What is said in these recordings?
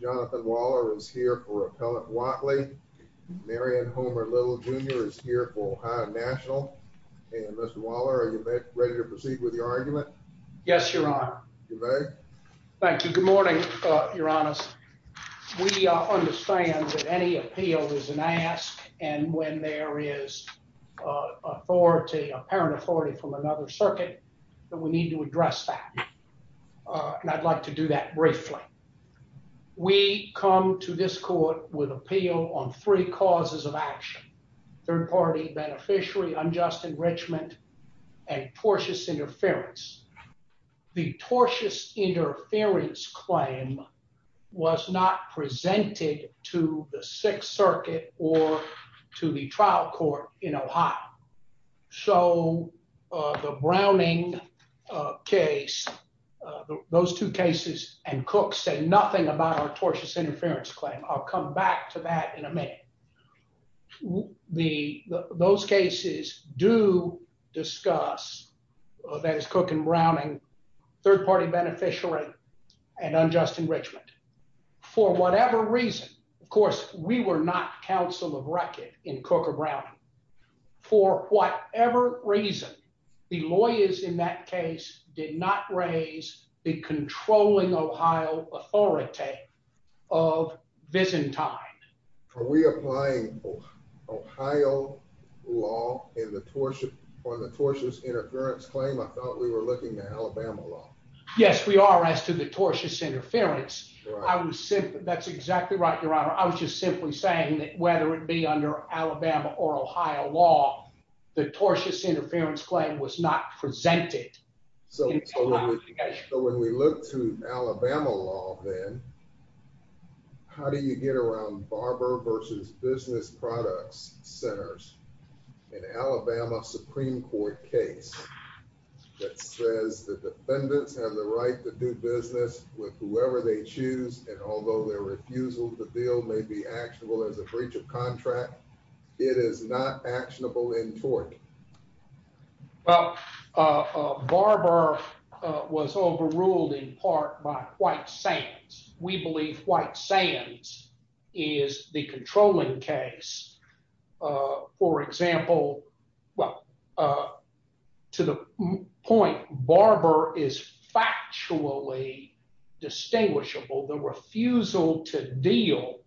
Jonathan Waller is here for Appellant Whatley, Marion Homer Little Jr. is here for Ohio National and Mr. Waller, are you ready to proceed with your argument? Yes, Your Honor. You may. Thank you. Good morning, Your Honors. We understand that any appeal is an ask, and when there is authority, apparent authority from another circuit, that we need to address that, and I'd like to do that briefly. We come to this court with appeal on three causes of action, third-party beneficiary unjust enrichment and tortious interference. The tortious interference claim was not presented to the Sixth Circuit or to the trial court in Ohio, so the Browning case, those two cases and Cook say nothing about our tortious interference claim. I'll come back to that in a minute. Those cases do discuss, that is Cook and Browning, third-party beneficiary and unjust enrichment. For whatever reason, of course, we were not counsel of record in Cook or Browning. For whatever reason, the lawyers in that case did not raise the controlling Ohio authority of Byzantine. Are we applying Ohio law on the tortious interference claim? I thought we were looking at Alabama law. Yes, we are as to the tortious interference. That's exactly right, Your Honor. I was just simply saying that whether it be under Alabama or Ohio law, the tortious interference claim was not presented. So when we look to Alabama law then, how do you get around Barber v. Business Products Centers, an Alabama Supreme Court case that says the defendants have the right to do business with whoever they choose and although their refusal to deal may be actionable as a breach of contract, it is not actionable in tort? Well, Barber was overruled in part by White Sands. We believe White Sands is the controlling case. For example, to the point, Barber is factually distinguishable. The refusal to deal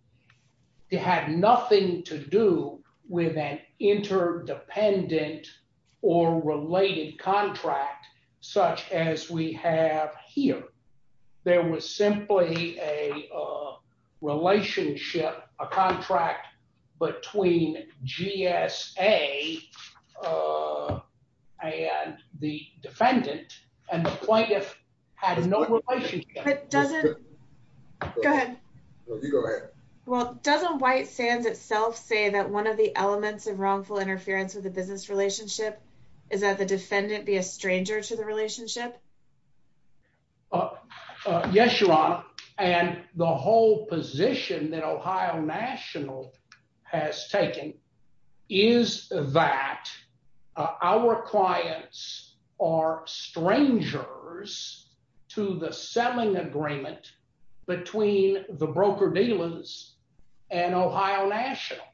had nothing to do with an interdependent or related contract such as we have here. There was simply a relationship, a contract between GSA and the defendant and the plaintiff had no relationship. But doesn't... Go ahead. You go ahead. Well, doesn't White Sands itself say that one of the elements of wrongful interference with a business relationship is that the defendant be a stranger to the relationship? Yes, Your Honor. And the whole position that Ohio National has taken is that our clients are strangers to the selling agreement between the broker-dealers and Ohio National.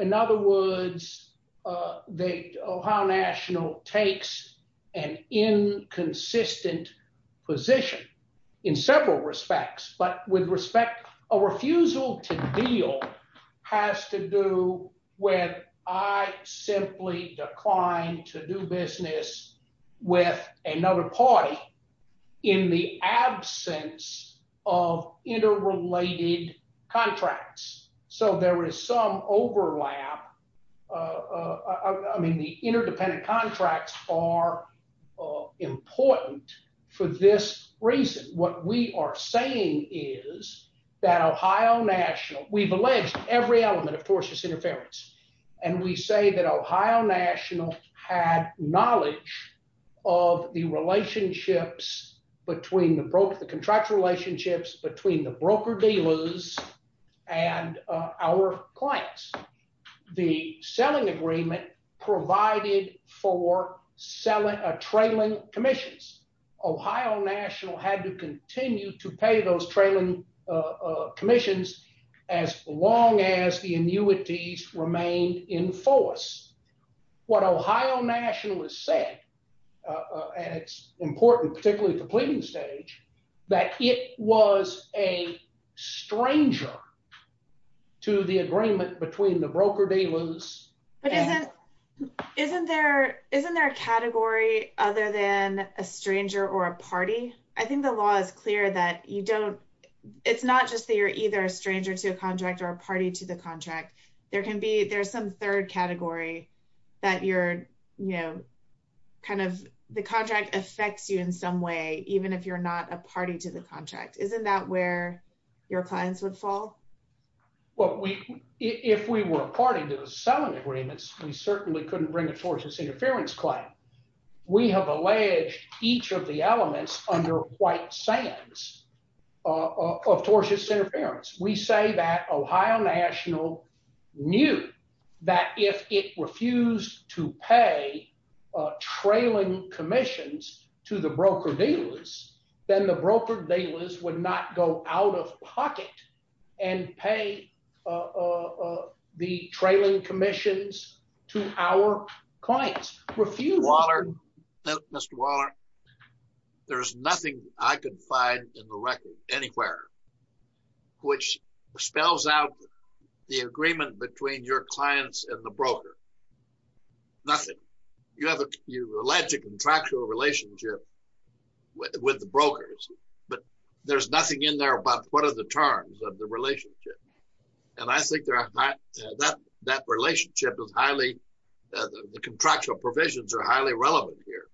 In other words, Ohio National takes an inconsistent position in several respects, but with respect, a refusal to deal has to do with I simply declined to do business with another party in the absence of interrelated contracts. So there is some overlap. I mean, the interdependent contracts are important for this reason. What we are saying is that Ohio National... We've alleged every element of tortious interference, and we say that Ohio National had knowledge of the relationships between the broker... The contractual relationships between the broker-dealers and our clients. The selling agreement provided for selling, trailing commissions. Ohio National had to continue to pay those trailing commissions as long as the annuities remained in force. What Ohio National has said, and it's important, particularly at the pleading stage, that it was a stranger to the agreement between the broker-dealers... But isn't there a category other than a stranger or a party? I think the law is clear that you don't... It's not just that you're either a stranger to a contract or a party to the contract. There can be... There's some third category that you're kind of... The contract affects you in some way, even if you're not a party to the contract. Isn't that where your clients would fall? Well, if we were a party to the selling agreements, we certainly couldn't bring a tortious interference claim. We have alleged each of the elements under white sands of tortious interference. We say that Ohio National knew that if it refused to pay trailing commissions to the broker-dealers, then the broker-dealers would not go out of pocket and pay the trailing commissions to our clients. Refusing... Which spells out the agreement between your clients and the broker. Nothing. You have... You allege a contractual relationship with the brokers, but there's nothing in there about what are the terms of the relationship. And I think that relationship is highly... The contractual provisions are highly relevant here.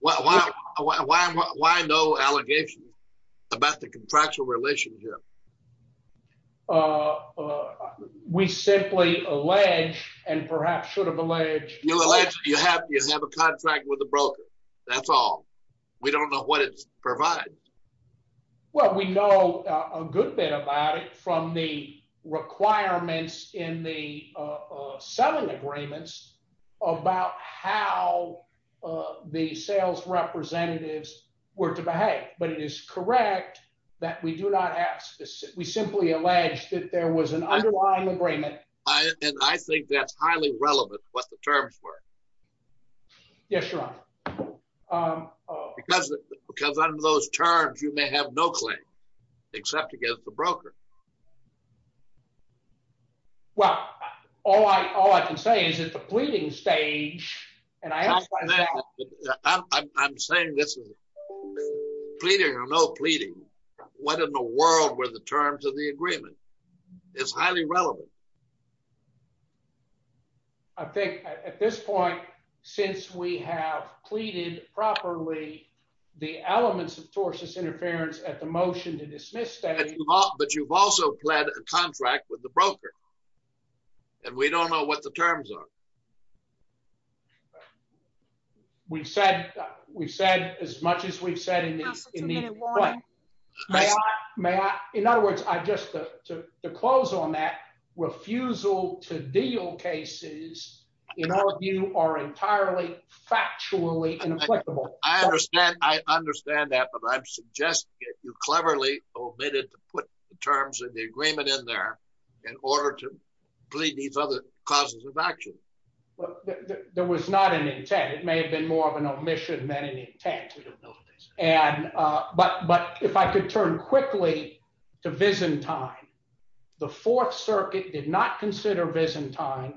Why no allegations about the contractual relationship? We simply allege, and perhaps should have alleged... You allege you have a contract with the broker. That's all. We don't know what it provides. Well, we know a good bit about it from the requirements in the selling agreements about how the sales representatives were to behave. But it is correct that we do not have... We simply allege that there was an underlying agreement. And I think that's highly relevant, what the terms were. Yes, Your Honor. Because under those terms, you may have no claim, except against the broker. Well, all I can say is that the pleading stage... I'm saying this is pleading or no pleading. What in the world were the terms of the agreement? It's highly relevant. I think at this point, since we have pleaded properly, the elements of torsus interference at the motion to dismiss... But you've also pled a contract with the broker. And we don't know what the terms are. We've said as much as we've said in the... In other words, just to close on that, refusal to deal cases, in our view, are entirely factually ineffective. I understand that, but I'm suggesting that you cleverly omitted to put the terms of the agreement in there in order to plead these other causes of action. There was not an intent. It may have been more of an omission than an intent. But if I could turn quickly to Byzantine, the Fourth Circuit did not consider Byzantine.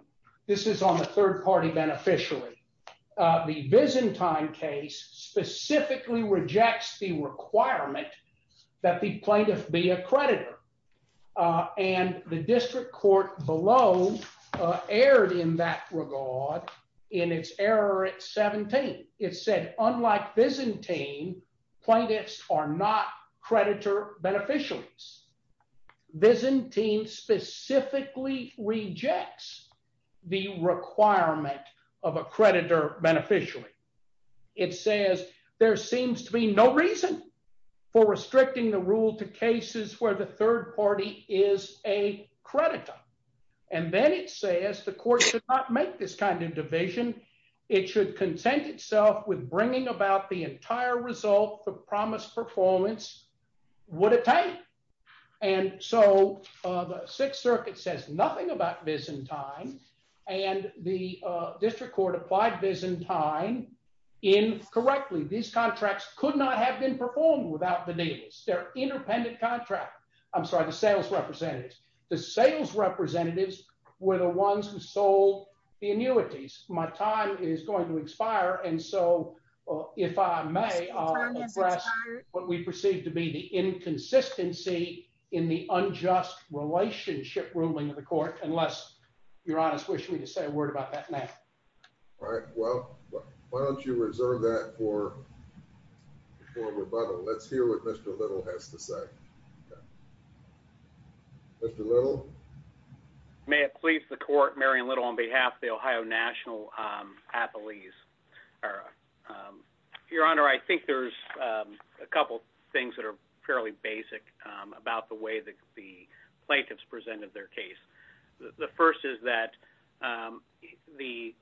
This is on the third party beneficiary. The Byzantine case specifically rejects the requirement that the plaintiff be a creditor. And the district court below erred in that regard in its error at 17. It said, unlike Byzantine, plaintiffs are not creditor beneficiaries. Byzantine specifically rejects the requirement of a creditor beneficiary. It says there seems to be no reason for restricting the rule to cases where the third party is a creditor. And then it says the court should not make this kind of division. It should consent itself with bringing about the entire result the promised performance would attain. And so the Sixth Circuit says nothing about Byzantine, and the district court applied Byzantine incorrectly. These contracts could not have been performed without the deals. They're independent contracts. I'm sorry, the sales representatives. The sales representatives were the ones who sold the annuities. My time is going to expire, and so if I may, I'll address what we perceive to be the inconsistency in the unjust relationship ruling of the court, unless Your Honor's wish me to say a word about that now. All right. Well, why don't you reserve that for rebuttal. Let's hear what Mr. Little has to say. Mr. Little? May it please the court, Marion Little, on behalf of the Ohio National athletes. Your Honor, I think there's a couple things that are fairly basic about the way that the plaintiffs presented their case. The first is that the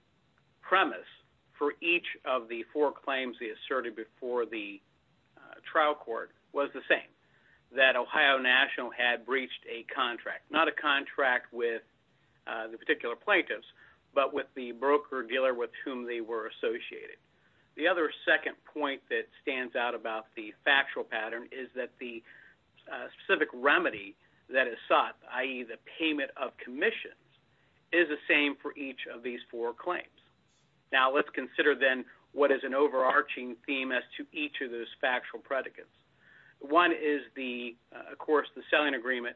premise for each of the four claims they asserted before the trial court was the same, that Ohio National had breached a contract, not a contract with the particular plaintiffs, but with the broker-dealer with whom they were associated. The other second point that stands out about the factual pattern is that the specific remedy that is sought, i.e. the payment of commissions, is the same for each of these four claims. Now, let's consider then what is an overarching theme as to each of those factual predicates. One is, of course, the selling agreement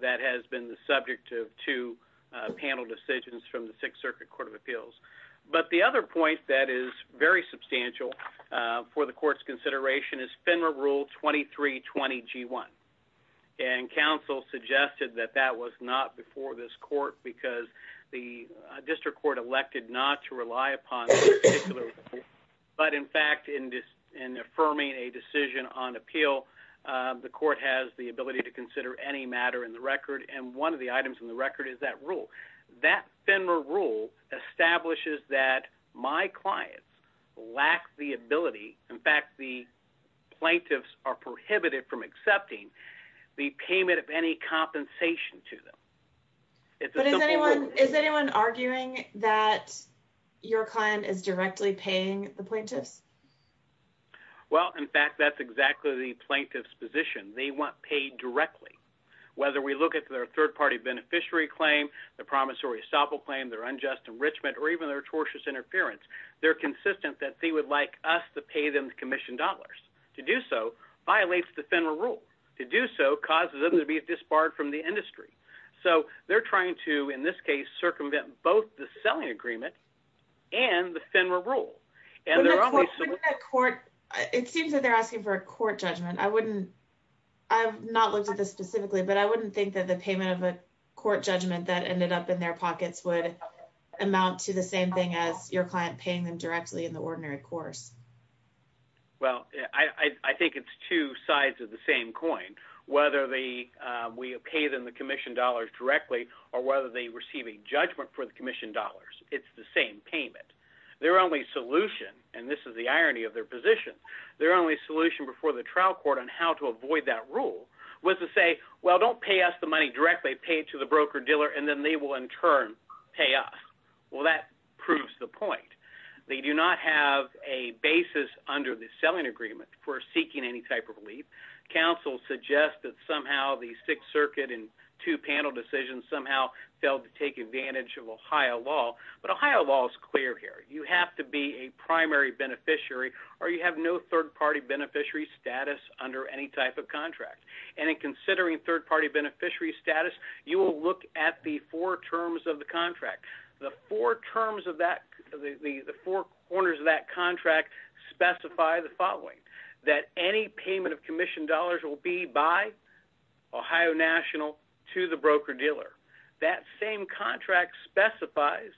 that has been the subject of two panel decisions from the Sixth Circuit Court of Appeals. But the other point that is very substantial for the court's consideration is FINRA Rule 2320G1. And counsel suggested that that was not before this court because the district court elected not to rely upon this particular rule. But in fact, in affirming a decision on appeal, the court has the ability to consider any matter in the record, and one of the items in the record is that rule. That FINRA rule establishes that my clients lack the ability, in fact, the plaintiffs are prohibited from accepting, the payment of any compensation to them. But is anyone arguing that your client is directly paying the plaintiffs? Well, in fact, that's exactly the plaintiff's position. They want paid directly. Whether we look at their third-party beneficiary claim, their promissory estoppel claim, their unjust enrichment, or even their tortious interference, they're consistent that they would like us to pay them the commission dollars. To do so violates the FINRA rule. To do so causes them to be disbarred from the industry. So they're trying to, in this case, circumvent both the selling agreement and the FINRA rule. And they're only soliciting... Wouldn't the court... It seems that they're asking for a court judgment. I wouldn't... I've not looked at this specifically, but I wouldn't think that the payment of a court judgment that ended up in their pockets would amount to the same thing as your client paying them directly in the ordinary course. Well, I think it's two sides of the same coin. Whether we pay them the commission dollars directly or whether they receive a judgment for the commission dollars, it's the same payment. Their only solution, and this is the irony of their position, their only solution before the trial court on how to avoid that rule was to say, well, don't pay us the money directly, pay it to the broker-dealer, and then they will in turn pay us. Well, that proves the point. They do not have a basis under the selling agreement for seeking any type of relief. Counsel suggests that somehow the Sixth Circuit in two panel decisions somehow failed to take advantage of Ohio law, but Ohio law is clear here. You have to be a primary beneficiary or you have no third-party beneficiary status under any type of contract. And in considering third-party beneficiary status, you will look at the four terms of the contract. The four terms of that, the four corners of that contract specify the following, that any payment of commission dollars will be by Ohio National to the broker-dealer. That same contract specifies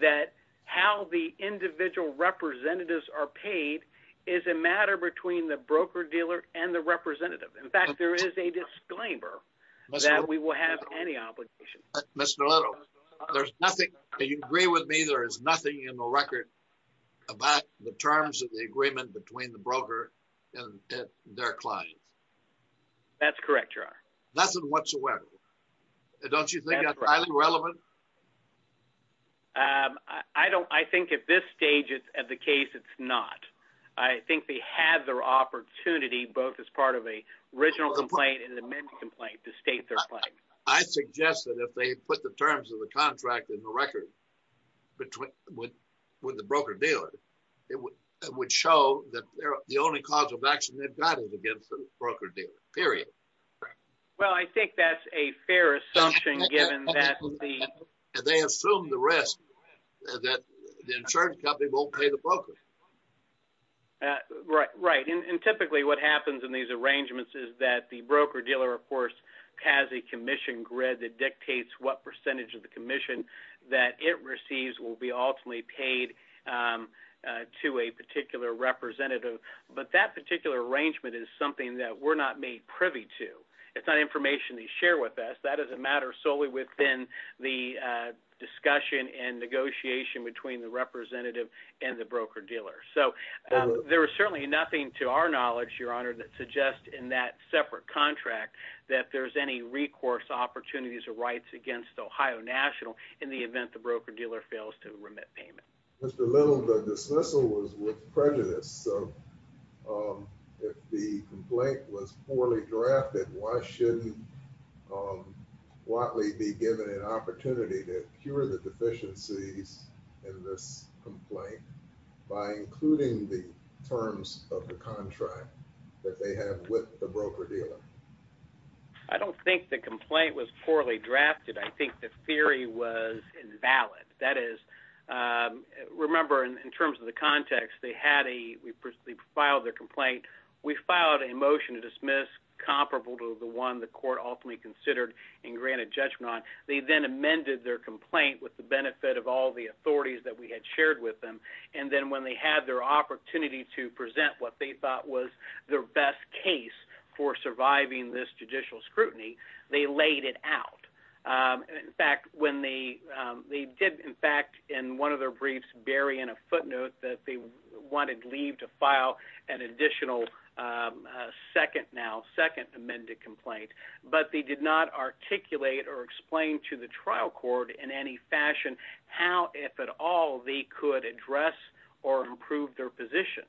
that how the individual representatives are paid is a matter between the broker-dealer and the representative. In fact, there is a disclaimer that we will have any obligation. Mr. Little, there's nothing, do you agree with me, there is nothing in the record about the terms of the agreement between the broker and their client? That's correct, Your Honor. Nothing whatsoever. Don't you think that's highly relevant? I don't, I think at this stage of the case, it's not. I think they had their opportunity, both as part of a original complaint and an amended complaint, to state their claim. I suggest that if they put the terms of the contract in the record with the broker-dealer, it would show that they're the only cause of action they've got against the broker-dealer, period. Well, I think that's a fair assumption, given that the... And they assume the risk that the insurance company won't pay the broker. Right, right. And there's a commission grid that dictates what percentage of the commission that it receives will be ultimately paid to a particular representative. But that particular arrangement is something that we're not made privy to. It's not information they share with us. That is a matter solely within the discussion and negotiation between the representative and the broker-dealer. So, there is certainly nothing to our knowledge, Your Honor, that suggests in that case that the broker-dealer has the opportunities or rights against Ohio National in the event the broker-dealer fails to remit payment. Mr. Little, the dismissal was with prejudice. So, if the complaint was poorly drafted, why shouldn't Watley be given an opportunity to cure the deficiencies in this complaint by including the terms of the contract that they have with the broker-dealer? I don't think the complaint was poorly drafted. I think the theory was invalid. That is, remember, in terms of the context, they filed their complaint. We filed a motion to dismiss comparable to the one the court ultimately considered and granted judgment on. They then amended their complaint with the benefit of all the authorities that we had shared with them. And then when they had their opportunity to present what they thought was their best case for surviving this judicial scrutiny, they laid it out. In fact, when they did, in fact, in one of their briefs, bury in a footnote that they wanted leave to file an additional second now, second amended complaint. But they did not articulate or explain to the trial court in any fashion how, if at all, they could address or improve their position.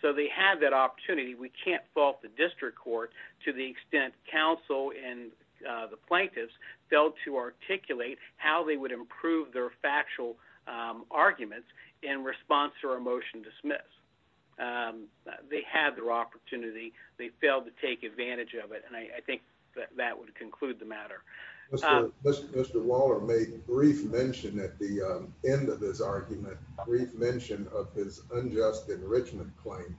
So, they had that opportunity. We can't fault the district court to the extent counsel and the plaintiffs failed to articulate how they would improve their factual arguments in response to our motion dismiss. They had their opportunity. They failed to take advantage of it. And I think that would conclude the matter. Mr. Waller made a brief mention at the end of this argument, brief mention of his unjust enrichment claim.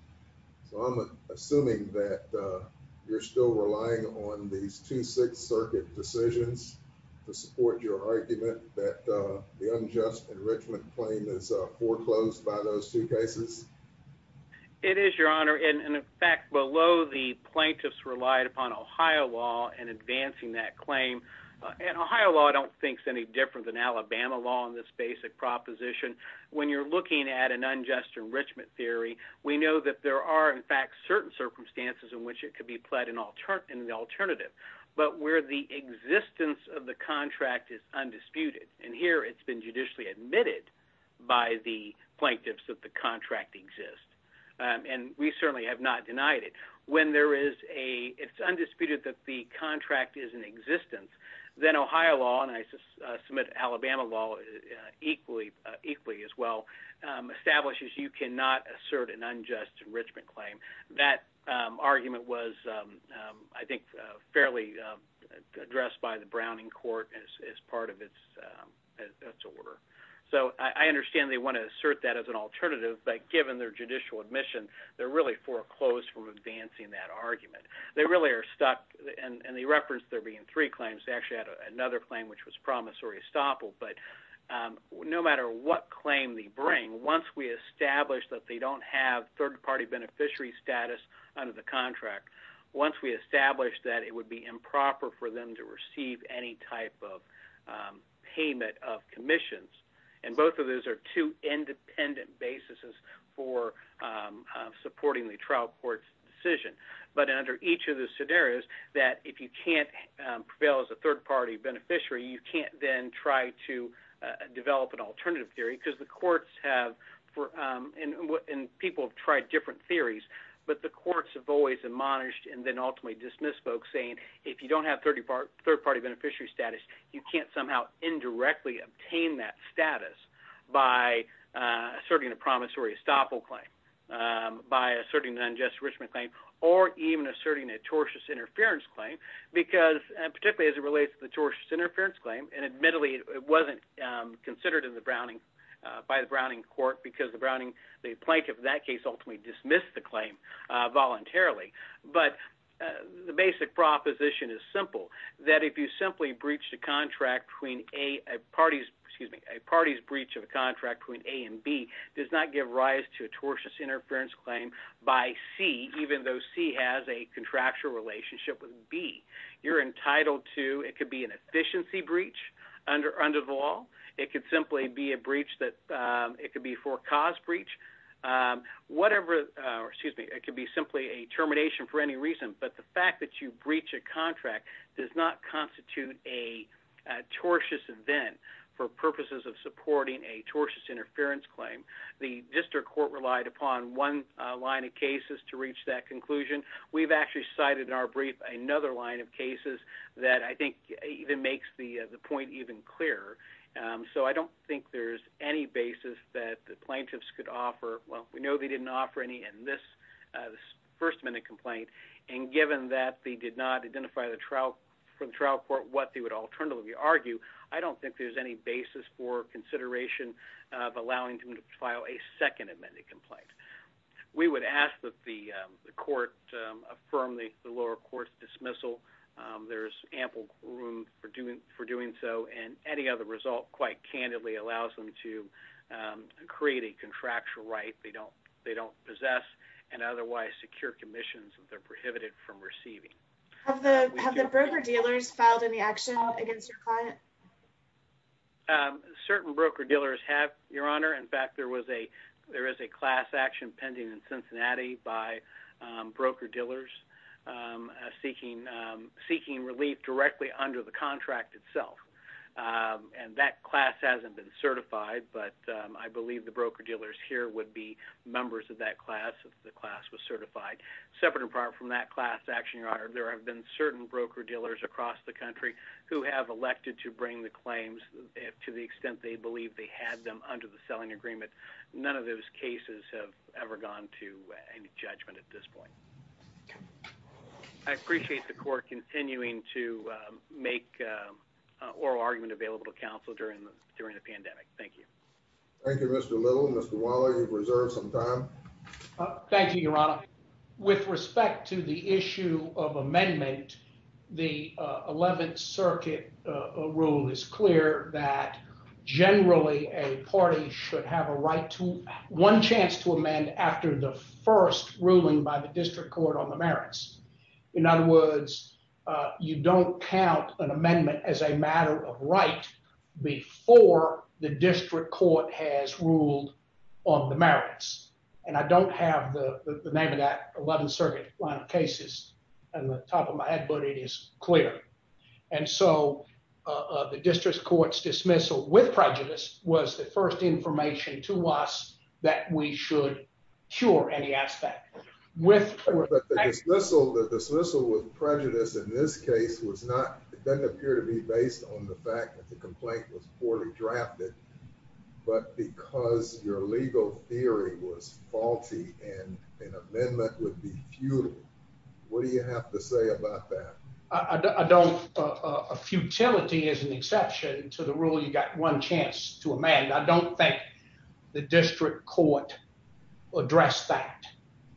So, I'm assuming that you're still relying on these two Sixth Circuit decisions to support your argument that the unjust enrichment claim is foreclosed by those two cases. It is your honor. And in fact, below the plaintiffs relied upon Ohio law and advancing that claim. And Ohio law, I don't think, is any different than Alabama law in this basic proposition. When you're looking at an unjust enrichment theory, we know that there are, in fact, certain circumstances in which it could be pled in the alternative, but where the existence of the contract is undisputed. And here it's been judicially admitted by the plaintiffs that the contract exists. And we certainly have not denied it. When there is a, it's undisputed that the contract is in existence, then Ohio law, and submit Alabama law equally as well, establishes you cannot assert an unjust enrichment claim. That argument was, I think, fairly addressed by the Browning court as part of its order. So, I understand they want to assert that as an alternative, but given their judicial admission, they're really foreclosed from advancing that argument. They really are stuck. And the reference there being three claims actually had another claim, which was promissory estoppel. But no matter what claim they bring, once we establish that they don't have third party beneficiary status under the contract, once we establish that it would be improper for them to receive any type of payment of commissions. And both of those are two independent basis for supporting the trial court's decision. But under each of the scenarios that if you can't prevail as a third party beneficiary, you can't then try to develop an alternative theory because the courts have, and people have tried different theories, but the courts have always admonished and then ultimately dismissed folks saying, if you don't have third party beneficiary status, you can't somehow indirectly obtain that status by asserting a promissory estoppel claim, by even asserting a tortious interference claim, because particularly as it relates to the tortious interference claim, and admittedly it wasn't considered in the Browning, by the Browning court, because the Browning, the plaintiff in that case ultimately dismissed the claim voluntarily. But the basic proposition is simple, that if you simply breached a contract between A and parties, excuse me, a party's breach of a contract between A and B does not give rise to a tortious interference claim by C, even though C has a contractual relationship with B. You're entitled to, it could be an efficiency breach under the law. It could simply be a breach that, it could be for cause breach, whatever, or excuse me, it could be simply a termination for any reason. But the fact that you breach a contract does not constitute a tortious event for purposes of supporting a tortious interference claim. The district court relied upon one line of cases to reach that conclusion. We've actually cited in our brief another line of cases that I think even makes the point even clearer. So I don't think there's any basis that the plaintiffs could offer, well, we know they didn't offer any in this first minute complaint, and given that they did not identify the trial for the trial court what they would alternatively argue, I don't think there's any basis for consideration of allowing them to file a second amended complaint. We would ask that the court affirm the lower court's dismissal. There's ample room for doing so, and any other result quite candidly allows them to create a contractual right they don't possess, and otherwise secure commissions if they're prohibited from receiving. Have the broker-dealers filed any action against your client? Certain broker-dealers have, Your Honor. In fact, there is a class action pending in Cincinnati by broker-dealers seeking relief directly under the contract itself, and that class hasn't been certified, but I believe the broker-dealers here would be members of that class if the class was certified. Separate in part from that class action, Your Honor, there have been certain broker-dealers across the country who have elected to bring the claims to the extent they believe they had them under the selling agreement. None of those cases have ever gone to any judgment at this point. I appreciate the court continuing to make oral argument available to counsel during the pandemic. Thank you. Thank you, Mr. Little. Thank you, Your Honor. With respect to the issue of amendment, the Eleventh Circuit rule is clear that generally a party should have a right to one chance to amend after the first ruling by the district court on the merits. In other words, you don't count an amendment as a matter of right before the district court has ruled on the merits. And I don't have the name of that Eleventh Circuit line of cases on the top of my head, but it is clear. And so the district court's dismissal with prejudice was the first information to us that we should cure any aspect. But the dismissal with prejudice in this case didn't appear to be based on the fact that the complaint was poorly drafted. But because your legal theory was faulty and an amendment would be futile, what do you have to say about that? I don't. A futility is an exception to the rule you got one chance to amend. I don't think the district court addressed that.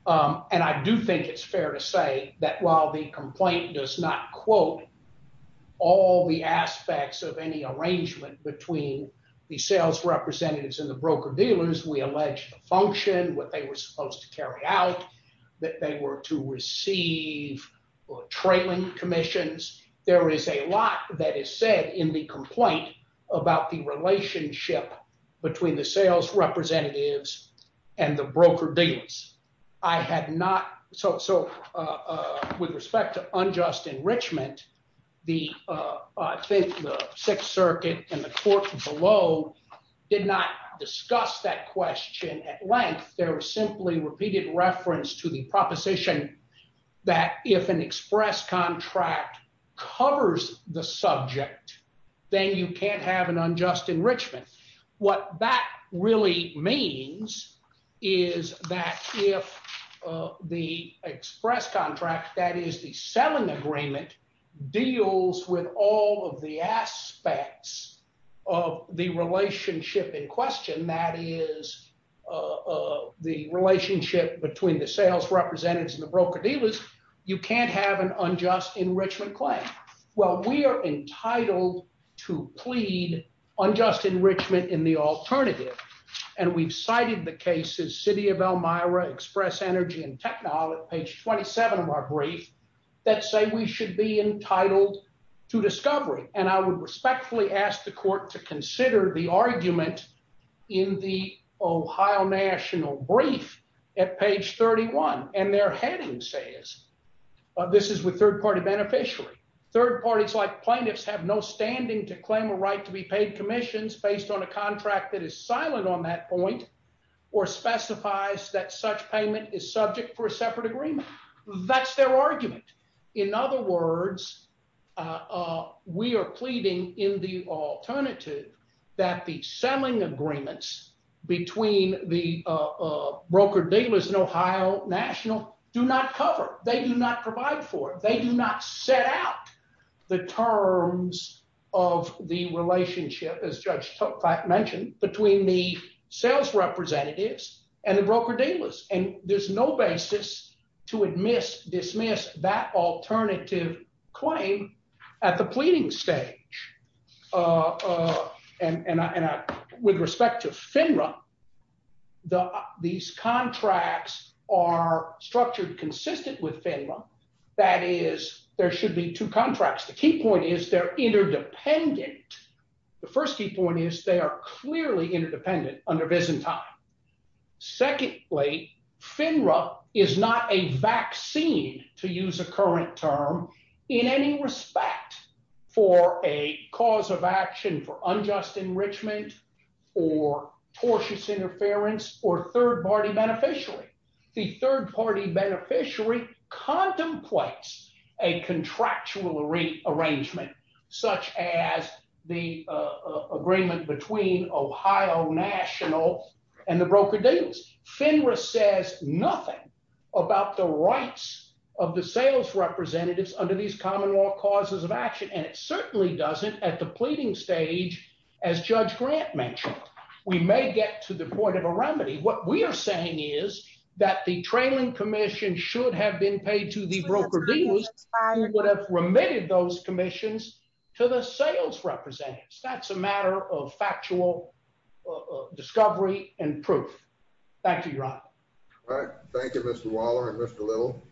And I do think it's fair to say that while the complaint does not quote all the aspects of any arrangement between the sales representatives and the broker-dealers, we allege the function, what they were supposed to carry out, that they were to receive trailing commissions. There is a lot that is said in the complaint about the relationship between the sales representatives and the broker-dealers. I had not, so with respect to unjust enrichment, the Sixth Circuit and the court below did not discuss that question at length. There was simply repeated reference to the proposition that if an express contract covers the subject, then you can't have an unjust enrichment. What that really means is that if the express contract, that is the selling agreement, deals with all of the aspects of the relationship in question, that is the relationship between the sales representatives and the broker-dealers, you can't have an unjust enrichment claim. Well, we are entitled to plead unjust enrichment in the alternative. And we've cited the cases, City of Elmira, Express Energy, and Technol at page 27 of our brief, that say we should be entitled to discovery. And I would respectfully ask the court to consider the argument in the Ohio national brief at page 31. And their heading says, this is with third-party beneficiary. Third parties like plaintiffs have no standing to claim a right to be paid commissions based on a contract that is silent on that point or specifies that such payment is subject for a separate agreement. That's their argument. In other words, we are pleading in the alternative that the selling agreements between the broker-dealers and Ohio national do not cover. They do not provide for it. They do not set out the terms of the relationship, as Judge Tokvac mentioned, between the sales representatives and the broker-dealers. And there's no basis to admit, dismiss that alternative claim at the pleading stage. And with respect to FINRA, these contracts are structured consistent with FINRA. That is, there should be two contracts. The key point is they're interdependent. The first key point is they are clearly interdependent under Byzantine. Secondly, FINRA is not a vaccine, to use a current term, in any respect for a cause of action for unjust enrichment or tortious interference or third-party beneficiary. The third-party beneficiary contemplates a contractual arrangement, such as the agreement between Ohio national and the broker-dealers. FINRA says nothing about the rights of the sales representatives under these common law causes of action. And it certainly doesn't at the pleading stage, as Judge Grant mentioned. We may get to the point of a remedy. What we are saying is that the trailing commission should have been paid to the broker-dealers who would have remitted those commissions to the sales representatives. That's a matter of factual discovery and proof. Thank you, Ron. All right. Thank you, Mr. Waller and Mr. Little.